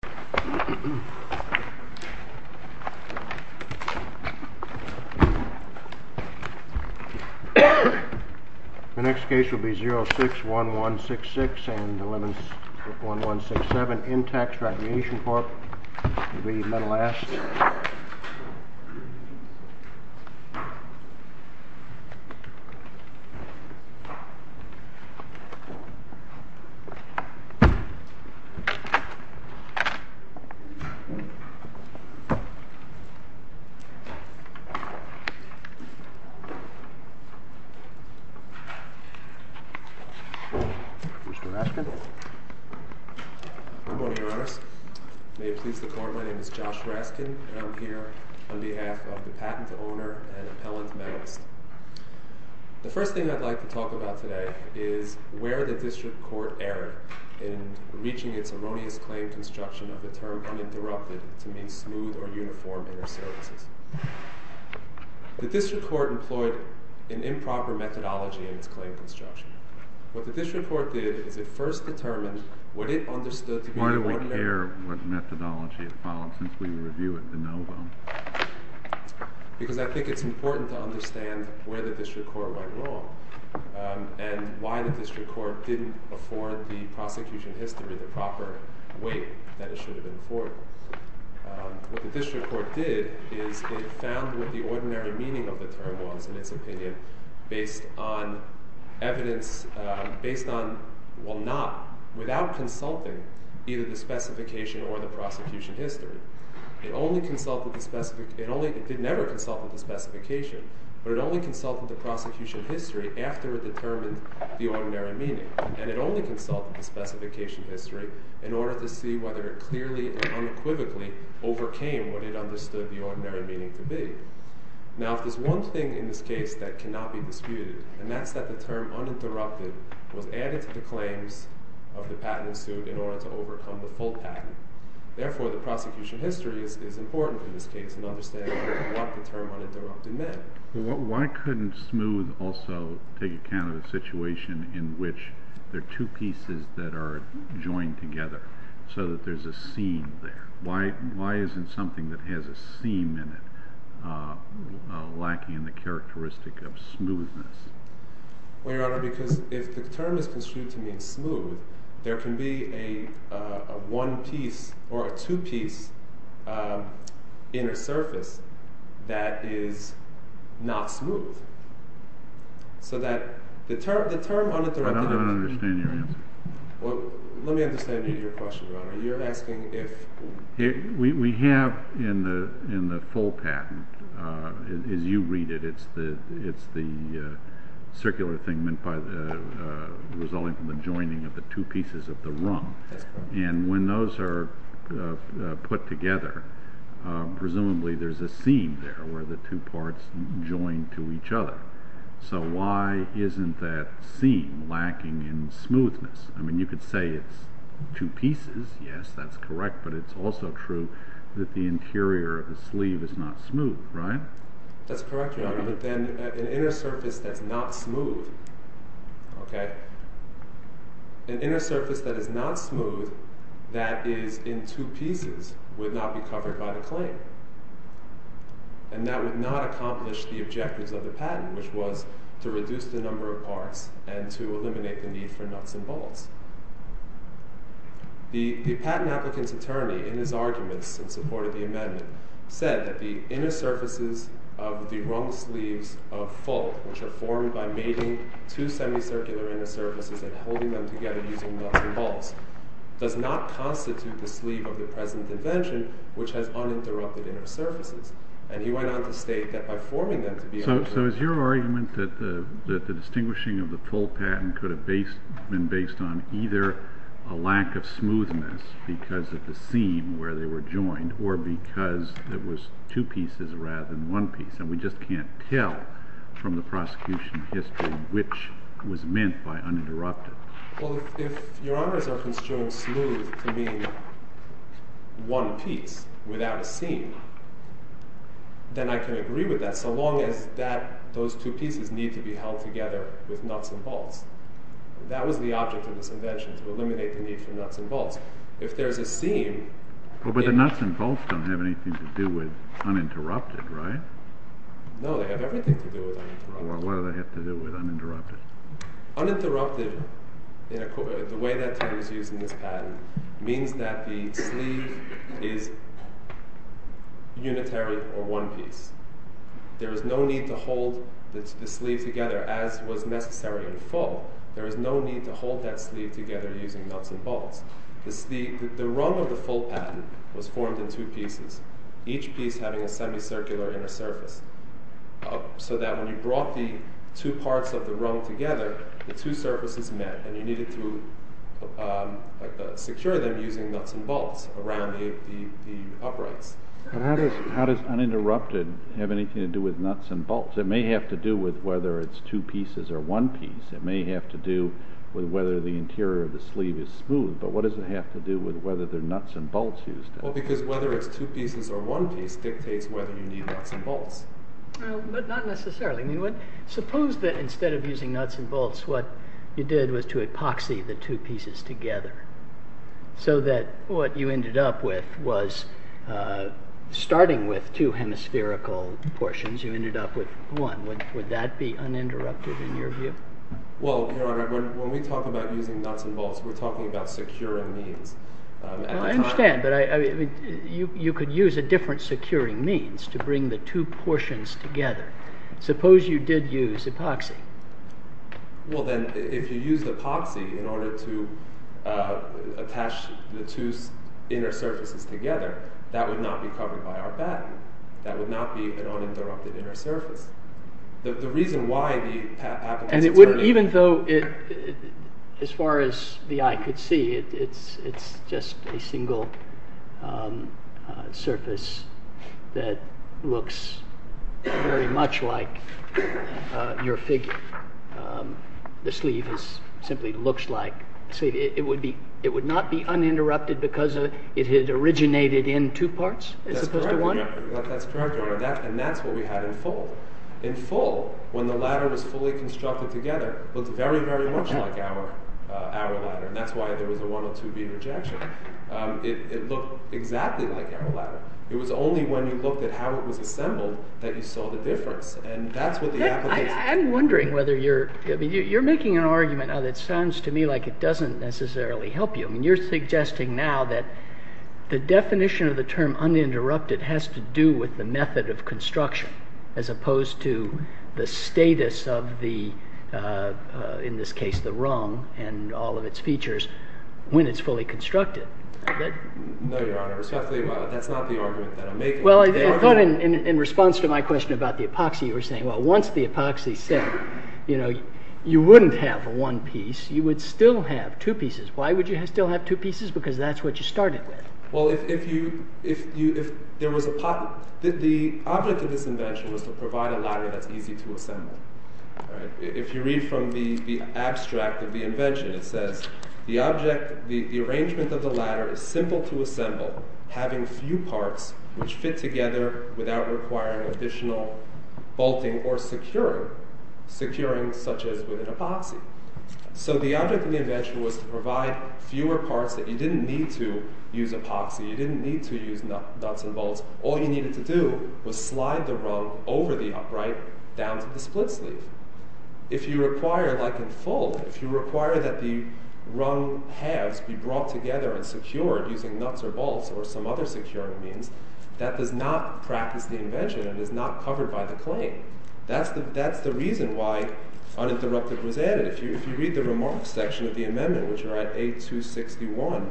The next case will be 061166 and 11167 Intex Recreation v. Metalast The first thing I'd like to talk about today is where the district court erred in reaching its erroneous claim construction of the term uninterrupted to mean smooth or uniform inter-services. The district court employed an improper methodology in its claim construction. What the district court did is it first determined what it understood to be the point of error. Why do we care what methodology is followed since we review it de novo? Because I think it's important to understand where the district court went wrong and why the district court didn't afford the prosecution history the proper way that it should have been afforded. What the district court did is it found what the ordinary meaning of the term was in its opinion based on evidence, based on, well not, without consulting either the specification or the prosecution history. It only consulted the specific, it only, it did never consult with the specification, but it only consulted the prosecution history after it determined the ordinary meaning. And it only consulted the specification history in order to see whether it clearly and unequivocally overcame what it understood the ordinary meaning to be. Now if there's one thing in this case that cannot be disputed, and that's that the term uninterrupted was added to the claims of the patent suit in order to overcome the full patent, therefore the prosecution history is important in this case in understanding what the term uninterrupted meant. Why couldn't smooth also take account of the situation in which there are two pieces that are joined together so that there's a seam there? Why isn't something that has a seam in it lacking in the characteristic of smoothness? Well, Your Honor, because if the term is construed to mean smooth, there can be a one piece or two piece that is not smooth. So that the term uninterrupted... I don't understand your answer. Well, let me understand your question, Your Honor. You're asking if... We have in the full patent, as you read it, it's the circular thing meant by the resulting from the joining of the two pieces of the rung. And when those are put together, presumably there's a seam there where the two parts join to each other. So why isn't that seam lacking in smoothness? I mean, you could say it's two pieces, yes, that's correct, but it's also true that the interior of the sleeve is not smooth, right? That's correct, Your Honor, but then an inner surface that's not smooth, okay, an inner And that would not accomplish the objectives of the patent, which was to reduce the number of parts and to eliminate the need for nuts and bolts. The patent applicant's attorney in his arguments in support of the amendment said that the inner surfaces of the rung sleeves of full, which are formed by mating two semicircular inner surfaces and holding them together using nuts and bolts, does not constitute the sleeve of the present invention, which has uninterrupted inner surfaces. And he went on to state that by forming them to be... So is your argument that the distinguishing of the full patent could have been based on either a lack of smoothness because of the seam where they were joined or because it was two pieces rather than one piece? And we just can't tell from the prosecution history which was meant by uninterrupted. Well, if Your Honors are construing smooth to mean one piece without a seam, then I can agree with that so long as those two pieces need to be held together with nuts and bolts. That was the object of this invention, to eliminate the need for nuts and bolts. If there's a seam... But the nuts and bolts don't have anything to do with uninterrupted, right? No, they have everything to do with uninterrupted. Well, what do they have to do with uninterrupted? Uninterrupted, the way that it is used in this patent, means that the sleeve is unitary or one piece. There is no need to hold the sleeve together as was necessary in the fall. There is no need to hold that sleeve together using nuts and bolts. The rung of the full patent was formed in two pieces, each piece having a semicircular inner surface. So that when you brought the two parts of the rung together, the two surfaces met and you needed to secure them using nuts and bolts around the uprights. How does uninterrupted have anything to do with nuts and bolts? It may have to do with whether it's two pieces or one piece. It may have to do with whether the interior of the sleeve is smooth, but what does it have to do with whether there are nuts and bolts used in it? Well, because whether it's two pieces or one piece dictates whether you need nuts and bolts. But not necessarily. Suppose that instead of using nuts and bolts, what you did was to epoxy the two pieces together, so that what you ended up with was, starting with two hemispherical portions, you ended up with one. Would that be uninterrupted in your view? Well, Your Honor, when we talk about using nuts and bolts, we're talking about securing these. I understand, but you could use a different securing means to bring the two portions together. Suppose you did use epoxy. Well then, if you used epoxy in order to attach the two inner surfaces together, that would not be covered by our batten. That would not be an uninterrupted inner surface. The reason That's just a single surface that looks very much like your figure. The sleeve simply looks like. It would not be uninterrupted because it had originated in two parts as opposed to one? That's correct, Your Honor, and that's what we had in full. In full, when the ladder was fully constructed together, it looked very, very much like our ladder, and that's why there was a one or two beam rejection. It looked exactly like our ladder. It was only when you looked at how it was assembled that you saw the difference. I'm wondering whether you're making an argument that sounds to me like it doesn't necessarily help you. You're suggesting now that the definition of the term uninterrupted has to do with the method of construction as opposed to the status of the, in this case, the rung and all of its features when it's fully constructed. No, Your Honor, respectfully, that's not the argument that I'm making. Well, I thought in response to my question about the epoxy, you were saying, well, once the epoxy set, you wouldn't have one piece. You would still have two pieces. Why would you still have two pieces? Because that's what you started with. Well, the object of this invention was to provide a ladder that's easy to assemble. If you read from the abstract of the invention, it says, the arrangement of the ladder is simple to assemble, having few parts which fit together without requiring additional bolting or securing, such as with an epoxy. So the object of the invention was to provide fewer parts that you didn't need to use epoxy. You didn't need to use nuts and bolts. All you needed to do was slide the rung over the upright down to the split sleeve. If you require, like in full, if you require that the rung halves be brought together and secured using nuts or bolts or some other securing means, that does not practice the invention and is not covered by the claim. That's the reason why uninterrupted was added. If you read the remarks section of the amendment, which are at 8261,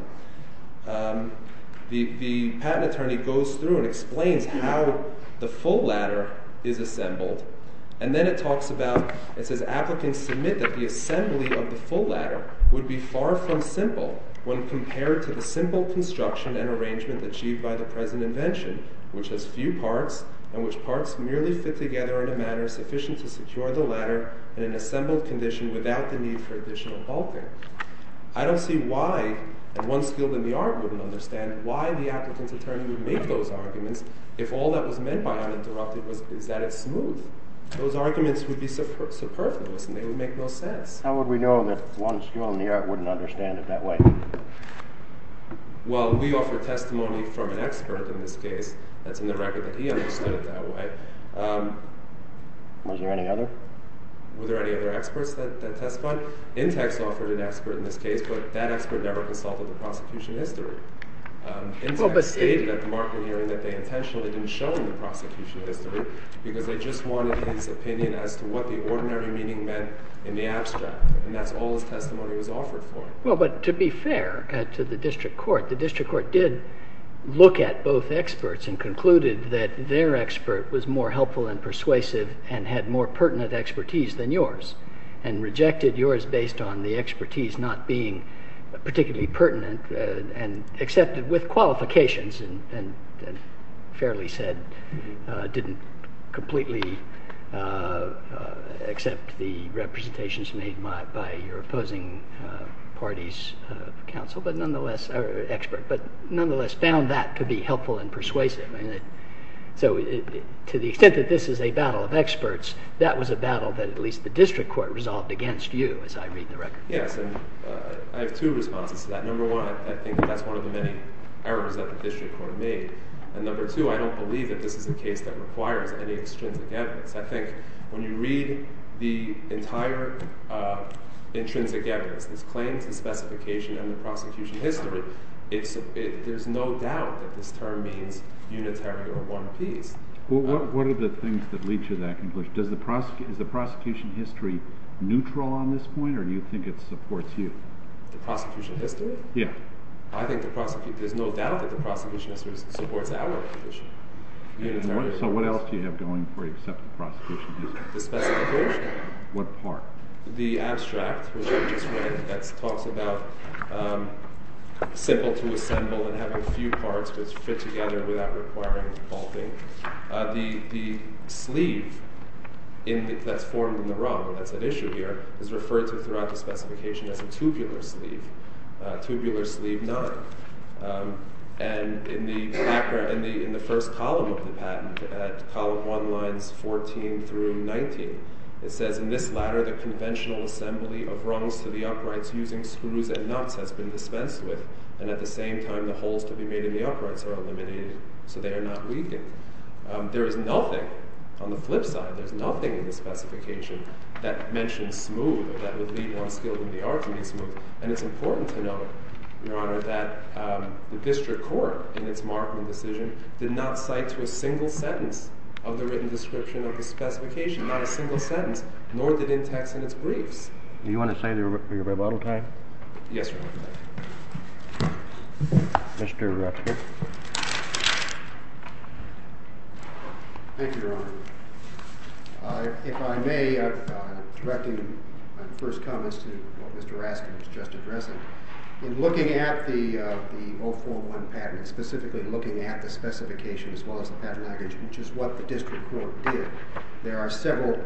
the patent attorney goes through and explains how the full ladder is assembled. And then it talks about, it says applicants submit that the assembly of the full ladder would be far from simple when compared to the simple construction and arrangement achieved by the present invention, which has few parts and which parts merely fit together in a manner sufficient to secure the ladder in an assembled condition without the need for additional bolting. I don't see why, and one skilled in the art wouldn't understand why the applicant's attorney would make those arguments if all that was meant by uninterrupted was that it's smooth. Those arguments would be superfluous and they would make no sense. How would we know that one skilled in the art wouldn't understand it that way? Well, we offer testimony from an expert in this case. That's in the record that he understood it that way. Was there any other? Were there any other experts that testified? Intex offered an expert in this case, but that expert never consulted the prosecution history. Intex stated at the market hearing that they intentionally didn't show him the prosecution history because they just wanted his opinion as to what the ordinary meaning meant in the abstract. And that's all his testimony was offered for. Well, but to be fair to the district court, the district court did look at both experts and concluded that their expert was more helpful and persuasive and had more pertinent expertise than yours and rejected yours based on the expertise not being particularly pertinent and accepted with qualifications and fairly said, didn't completely accept the representations made by your opposing parties of counsel, but nonetheless, or expert, but nonetheless found that to be helpful and persuasive. So to the extent that this is a battle of experts, that was a battle that at least the district court resolved against you as I read the record. Yes, and I have two responses to that. Number one, I think that's one of the many errors that the district court made. And number two, I don't believe that this is a case that requires any extrinsic evidence. I think when you read the entire intrinsic evidence, this claims the specification and the prosecution history, there's no doubt that this term means unitary or one piece. Well, what are the things that lead to that conclusion? Is the prosecution history neutral on this point or do you think it supports you? The prosecution history? Yeah. I think there's no doubt that the prosecution history supports our position. So what else do you have going for you except the prosecution history? The specification. What part? The abstract, which I just read, that talks about simple to assemble and having few parts which fit together without requiring bolting. The sleeve that's formed in the raw, that's at issue here, is referred to throughout the specification as a tubular sleeve, tubular sleeve nine. And in the first column of the patent, at column one lines 14 through 19, it says, in this ladder, the conventional assembly of rungs to the uprights using screws and nuts has been dispensed with. And at the same time, the holes to be made in the uprights are eliminated. So they are not weakened. There is nothing, on the flip side, there's nothing in the specification that mentions smooth or that would lead one skilled in the art to be smooth. And it's important to note, Your Honor, that the district court, in its marking decision, did not cite to a single sentence of the written description of the specification, not a single sentence, nor did it text in its briefs. Do you want to say your rebuttal time? Yes, Your Honor. Mr. Raskin. Thank you, Your Honor. If I may, I'm directing my first comments to what Mr. Raskin was just addressing. In looking at the 041 patent, specifically looking at the specification as well as the patent language, which is what the district court did, there are several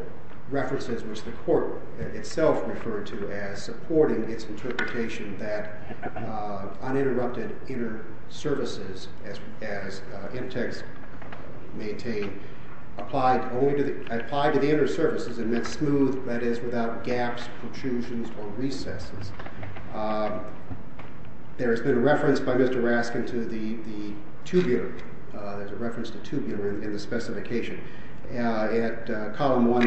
references which the court itself referred to as supporting its interpretation that uninterrupted inner services, as in text maintained, applied to the inner services and meant smooth, that is, without gaps, protrusions, or recesses. There has been a reference by Mr. Raskin to the tubular, there's a reference to tubular in the specification. At column 1,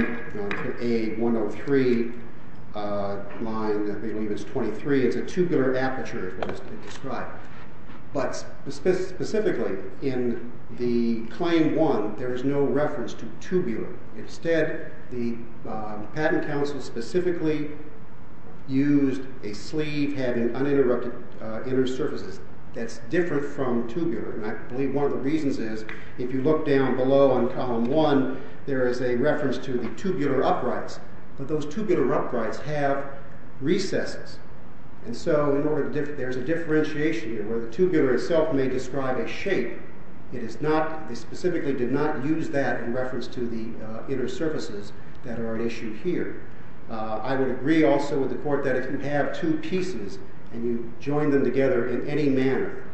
A103, line 23, it's a tubular aperture, as it's described. But specifically, in the claim 1, there is no reference to tubular. Instead, the patent counsel specifically used a sleeve having uninterrupted inner surfaces that's different from tubular. And I believe one of the reasons is, if you look down below on column 1, there is a reference to the tubular uprights. But those tubular uprights have recesses. And so there's a differentiation here where the tubular itself may describe a shape. It is not, they specifically did not use that in reference to the inner surfaces that are an issue here. I would agree also with the court that if you have two pieces and you join them together in any manner,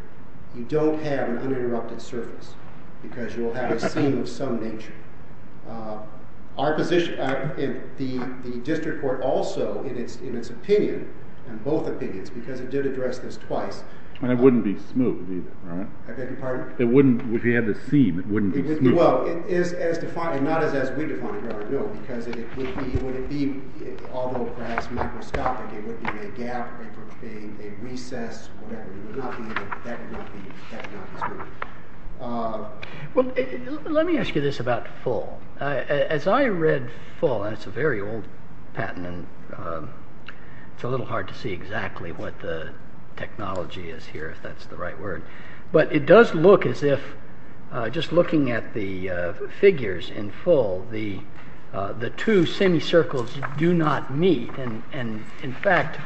you don't have an uninterrupted surface because you'll have a seam of some nature. Our position, the district court also, in its opinion, in both opinions, because it did address this twice. And it wouldn't be smooth either, right? I beg your pardon? It wouldn't, if you had the seam, it wouldn't be smooth. Well, it is as defined, not as we define it, because it would be, although perhaps microscopic, it would be a gap, it would be a recess, whatever. It would not be, that would not be smooth. Well, let me ask you this about full. As I read full, and it's a very old patent, and it's a little hard to see exactly what the technology is here, if that's the right word. But it does look as if, just looking at the figures in full, the two semicircles do not meet. And in fact,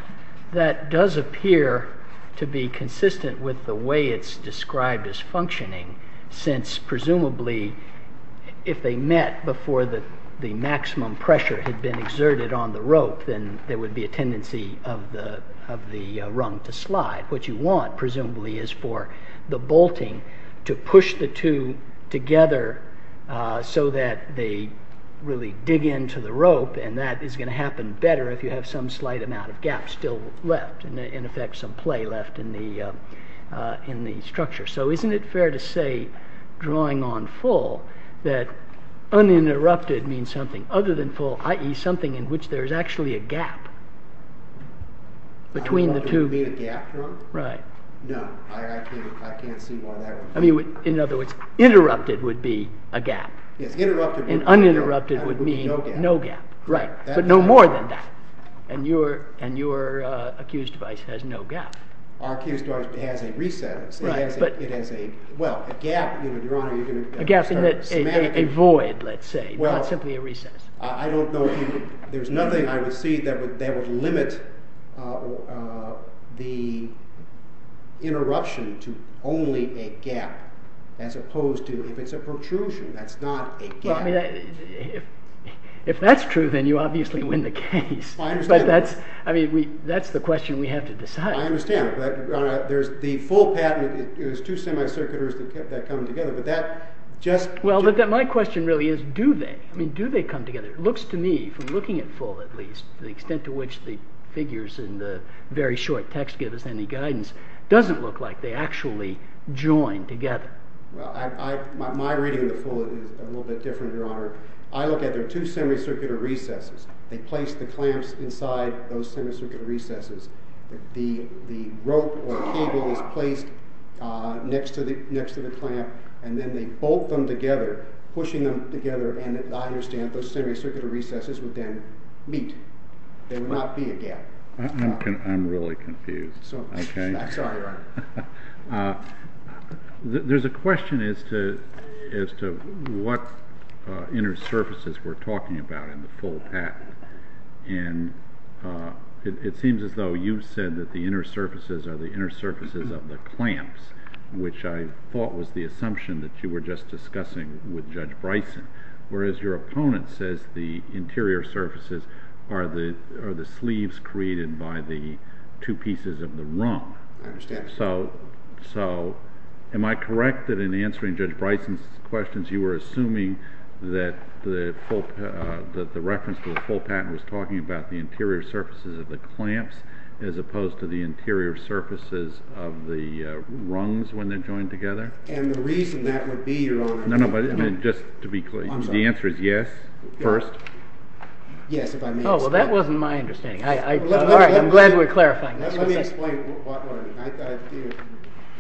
that does appear to be consistent with the way it's described as functioning, since presumably, if they met before the maximum pressure had been exerted on the rope, then there would be a tendency of the rung to slide. What you want, presumably, is for the bolting to push the two together so that they really dig into the rope, and that is going to happen better if you have some slight amount of gap still left, in effect some play left in the structure. So isn't it fair to say, drawing on full, that uninterrupted means something other than full, i.e. something in which there is actually a gap between the two? Interrupted would be a gap. And uninterrupted would mean no gap. But no more than that. And your accused device has no gap. Our accused device has a recess. A gap in the void, let's say, the interruption to only a gap, as opposed to, if it's a protrusion, that's not a gap. If that's true, then you obviously win the case. But that's the question we have to decide. I understand. But there's the full pattern, there's two semicirculars that come together, but that just... Well, my question really is, do they? I mean, do they come together? It looks to me, from looking at full at least, the extent to which the figures in the very short text give us any guidance, doesn't look like they actually join together. Well, my reading of the full is a little bit different, Your Honor. I look at there are two semicircular recesses. They place the clamps inside those semicircular recesses. The rope or cable is placed next to the clamp, and then they bolt them together, pushing them together, and I understand those semicircular recesses would then meet. There would not be a gap. I'm really confused. I'm sorry, Your Honor. There's a question as to what inner surfaces we're talking about in the full pattern, and it seems as though you've said that the inner surfaces are the inner surfaces of the clamps, which I thought was the assumption that you were just discussing with Judge Bryson, whereas your opponent says the interior surfaces are the sleeves created by the two pieces of the rung. I understand. So, am I correct that in answering Judge Bryson's questions, you were assuming that the reference to the full pattern was talking about the interior surfaces of the clamps as opposed to the interior surfaces of the rungs when they're joined together? And the reason that would be, Your Honor— No, no, but just to be clear, the answer is yes, first? Yes, if I may— Oh, well, that wasn't my understanding. I'm glad we're clarifying this. Let me explain what I mean.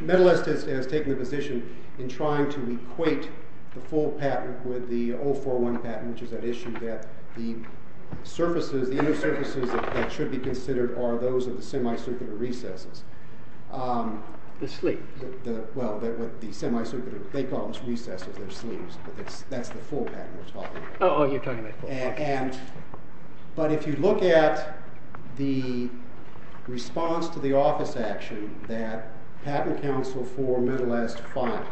The medalist has taken a position in trying to equate the full pattern with the 041 pattern, which is an issue that the inner surfaces that should be considered are those of the semicircular recesses. The sleeves. Well, the semicircular—they call those recesses their sleeves, but that's the full pattern we're talking about. Oh, you're talking about the full pattern. But if you look at the response to the office action that Patent Counsel for Medalists filed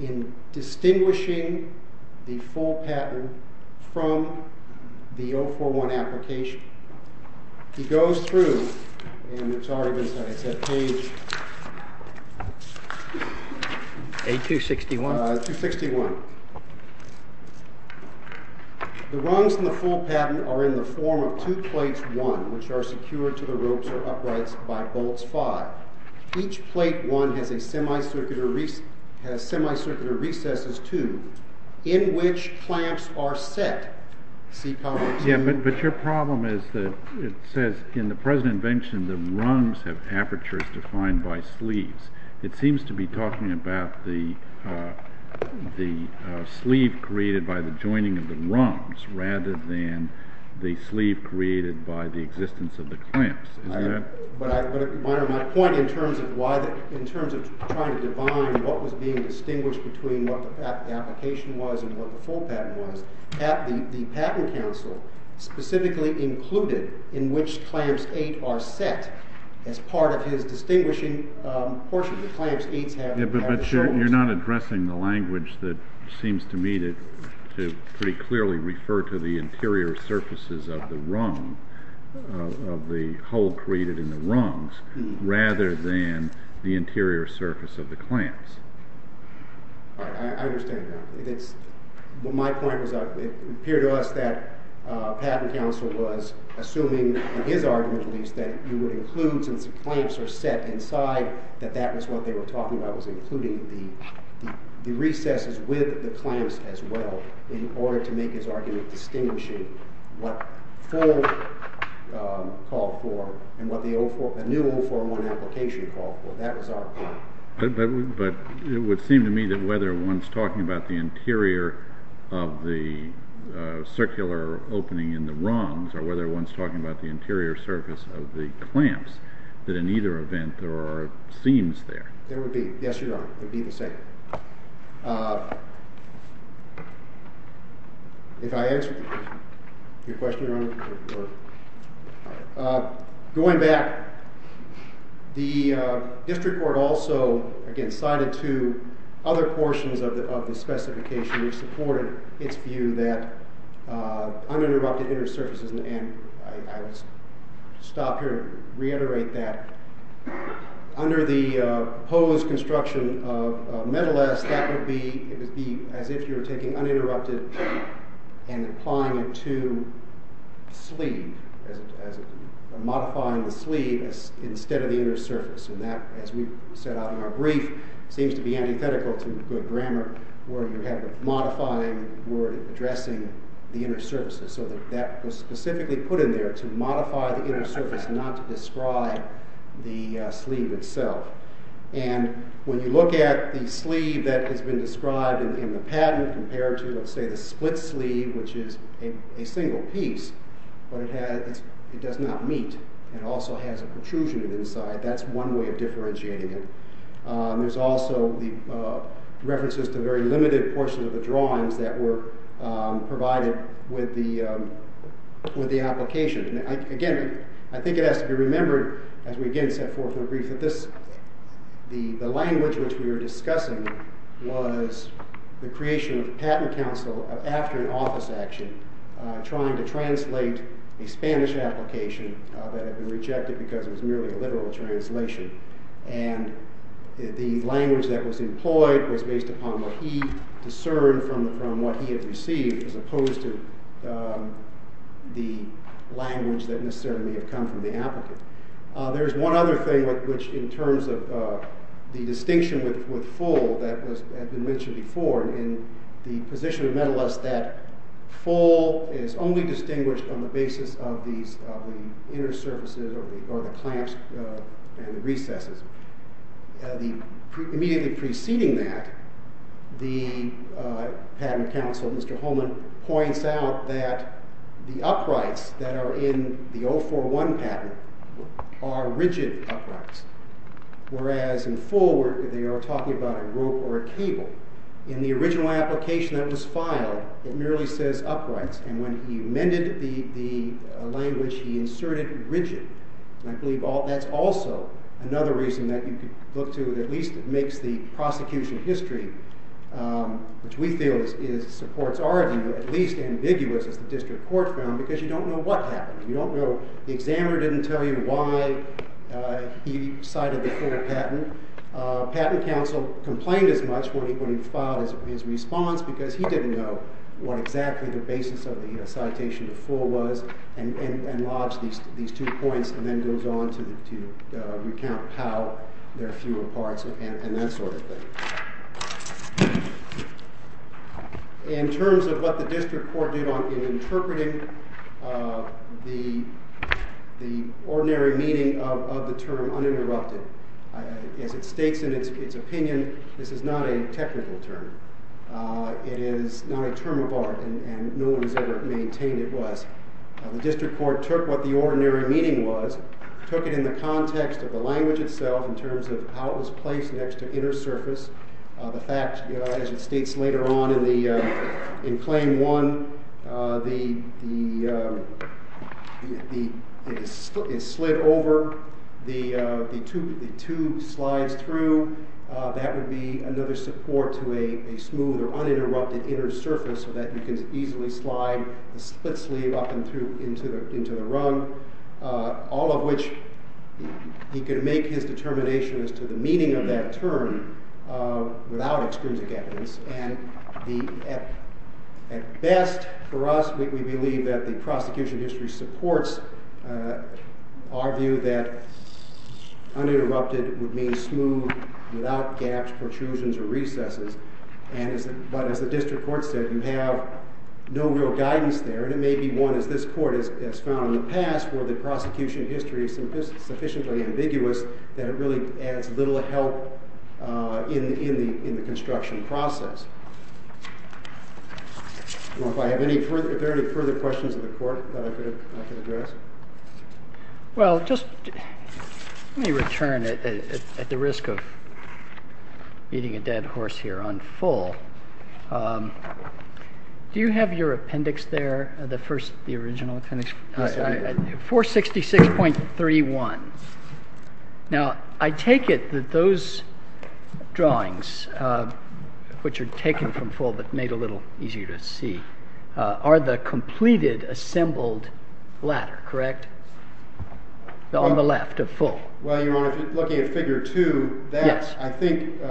in distinguishing the full pattern from the 041 application, he goes through, and it's already been said, it's at page— A261. 261. The rungs in the full pattern are in the form of two plates, one, which are secured to the semicircular recesses, two, in which clamps are set. Yeah, but your problem is that it says in the present invention the rungs have apertures defined by sleeves. It seems to be talking about the sleeve created by the joining of the rungs rather than the sleeve created by the existence of the clamps. But my point in terms of trying to define what was being distinguished between what the application was and what the full pattern was, the Patent Counsel specifically included in which clamps eight are set as part of his distinguishing portion. Yeah, but you're not addressing the language that seems to me to pretty clearly refer to the interior surfaces of the rung, of the hole created in the rungs, rather than the interior surface of the clamps. I understand that. My point was it appeared to us that Patent Counsel was assuming in his argument at least that you would include, since the clamps are set inside, that that was what they were talking about, was including the recesses with the clamps as well in order to make his argument distinguishing what full called for and what the new 041 application called for. That was our point. But it would seem to me that whether one's talking about the interior of the circular opening in the rungs or whether one's talking about the interior surface of the clamps, that in either event there are seams there. There would be. Yes, there are. It would be the same. If I answered your question, Your Honor. Going back, the district court also, again, cited two other portions of the specification which supported its view that uninterrupted interior surfaces, and I would stop here and reiterate that. Under the proposed construction of Metal S, that would be as if you were taking uninterrupted and applying it to sleeve, modifying the sleeve instead of the inner surface. And that, as we set out in our brief, seems to be antithetical to good grammar where you have a modifying word addressing the inner surfaces. So that was specifically put in there to modify the inner surface, not to describe the sleeve itself. And when you look at the sleeve that has been described in the patent compared to, let's say, the split sleeve which is a single piece, but it does not meet. It also has a protrusion inside. That's one way of differentiating it. There's also the references to very limited portions of the Again, I think it has to be remembered, as we again set forth in our brief, that the language which we were discussing was the creation of a patent counsel after an office action trying to translate a Spanish application that had been rejected because it was merely a literal translation. And the language that was employed was based upon what he discerned from what he had received as opposed to the language that necessarily may have come from the applicant. There's one other thing which in terms of the distinction with full that has been mentioned before in the position of metal aesthetic. Full is only distinguished on the basis of the inner surfaces or the clamps and the recesses. Immediately preceding that, the patent counsel, Mr. Holman, points out that the uprights that are in the 041 patent are rigid uprights, whereas in full they are talking about a rope or a cable. In the original application that was filed, it merely says uprights. And when he amended the language, he inserted rigid. And I believe that's also another reason that you could see prosecution history, which we feel supports our view, at least ambiguous as the district court found, because you don't know what happened. You don't know. The examiner didn't tell you why he cited the full patent. Patent counsel complained as much when he filed his response because he didn't know what exactly the basis of the citation of full was and lodged these two points and then goes on to recount how there are fewer parts and that sort of thing. In terms of what the district court did in interpreting the ordinary meaning of the term uninterrupted, as it states in its opinion, this is not a technical term. It is not a The district court took what the ordinary meaning was, took it in the context of the language itself in terms of how it was placed next to inner surface. The fact, as it states later on in claim one, it slid over the two slides through. That would be another support to a smooth or uninterrupted inner surface so that he could easily slide a split sleeve up and through into the rung, all of which he could make his determination as to the meaning of that term without extrinsic evidence. At best, for us, we believe that the prosecution history supports our view that uninterrupted would mean smooth, without gaps, protrusions or recesses. But as the district court said, you have no real guidance there. And it may be one, as this court has found in the past, where the prosecution history is sufficiently ambiguous that it really adds little help in the construction process. If there are any further questions of the court that I could address? Let me return, at the risk of eating a dead horse here, on Full. Do you have your appendix there, the original appendix? 466.31. Now, I take it that those drawings, which are taken from Full that made it a little easier to see, are the completed, assembled latter, correct? On the left of Full. Well, Your Honor, looking at figure 2, I think,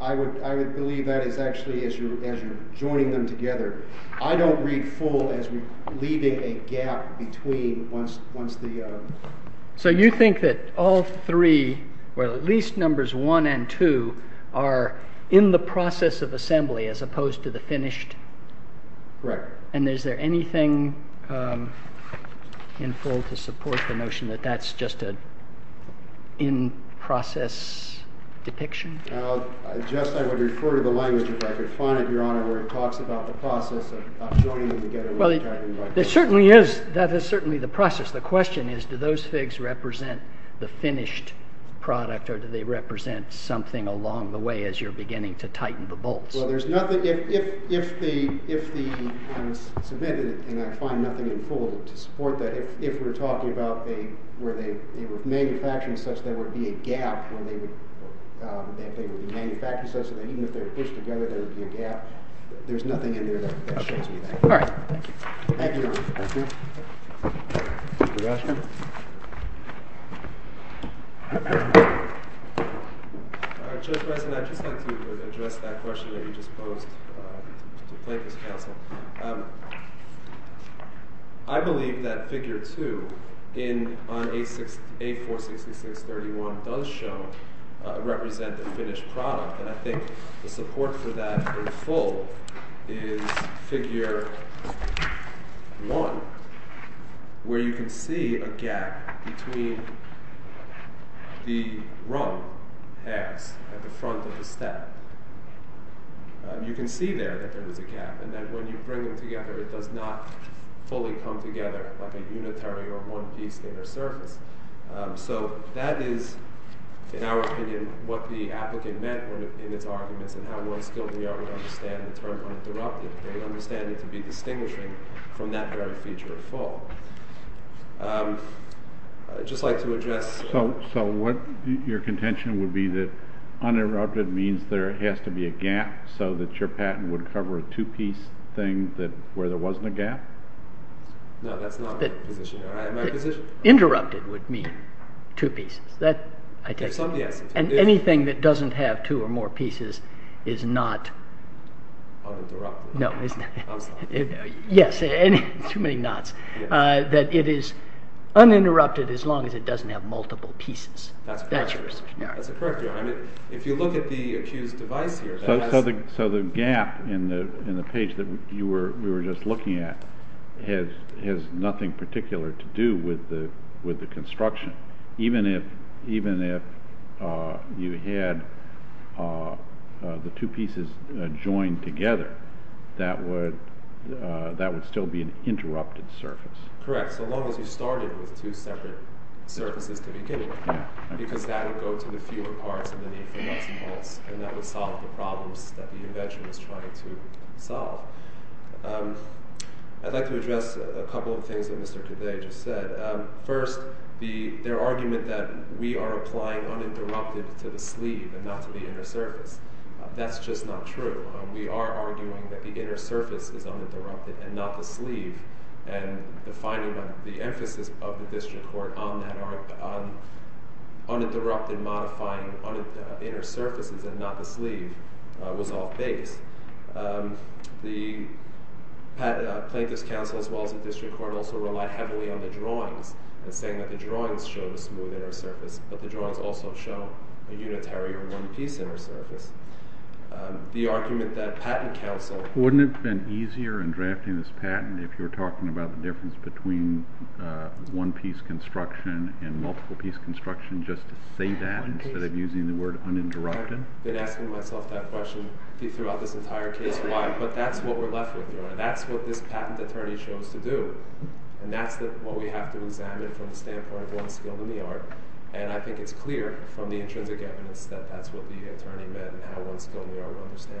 I would believe that is actually as you're joining them together. I don't read Full as leaving a gap between once the... So you think that all three, or at least numbers 1 and 2, are in the process of assembly, as opposed to the finished? Correct. And is there anything in Full to support the notion that that's just an in-process depiction? Well, I just, I would refer to the language, if I could find it, Your Honor, where it talks about the process of joining them together... Well, there certainly is, that is certainly the process. The question is, do those figs represent the finished product, or do they represent something along the way as you're beginning to tighten the bolts? Well, there's nothing... If the... I submitted it, and I find nothing in Full to support that. If we're talking about where they were manufactured such that there would be a gap when they would be manufactured such that even if they were pushed together, there would be a gap, there's nothing in there that shows All right. Thank you. Thank you, Your Honor. Thank you. Mr. Gosselin? All right, Judge Bresson, I'd just like to address that question that you just posed to the plaintiff's counsel. I believe that figure 2 in... on 846631 does show... represent the finished product, and I think the support for that in Full is figure 1, where you can see a gap between the rung pegs at the front of the step. You can see there that there was a gap, and that when you bring them together, it does not fully come together like a unitary or one piece in their surface. So that is, in our opinion, what the applicant meant in its arguments, and how one skilled New Yorker would understand the term uninterrupted. They would understand it to be distinguishing from that very feature of Full. I'd just like to address... So what your contention would be that uninterrupted means there has to be a gap so that your patent would cover a two piece thing where there wasn't a gap? No, that's not my position. Interrupted would mean two pieces. Yes. And anything that doesn't have two or more pieces is not... Uninterrupted. No. I'm sorry. Yes. Too many nots. That it is uninterrupted as long as it doesn't have multiple pieces. That's correct. That's your assertion. That's correct. If you look at the accused device here... So the gap in the page that we were just looking at has nothing particular to do with the construction. Even if you had the two pieces joined together, that would still be an interrupted surface. Correct. So long as you started with two separate surfaces to begin with, because that would and that would solve the problems that the invention was trying to solve. I'd like to address a couple of things that Mr. Cadet just said. First, their argument that we are applying uninterrupted to the sleeve and not to the inner surface. That's just not true. We are arguing that the inner surface is uninterrupted and not the sleeve. The finding of the emphasis of the district court on uninterrupted modifying on inner surfaces and not the sleeve was off base. The plaintiff's counsel as well as the district court also relied heavily on the drawings. Saying that the drawings show a smooth inner surface, but the drawings also show a unitary or one piece inner surface. The argument that patent counsel... You're talking about the difference between one piece construction and multiple piece construction? Just to say that instead of using the word uninterrupted? I've been asking myself that question throughout this entire case. Why? But that's what we're left with. That's what this patent attorney chose to do. And that's what we have to examine from the standpoint of one skilled in the art. And I think it's clear from the intrinsic evidence that that's what the attorney meant and how one skilled in the art will understand it. Thank you.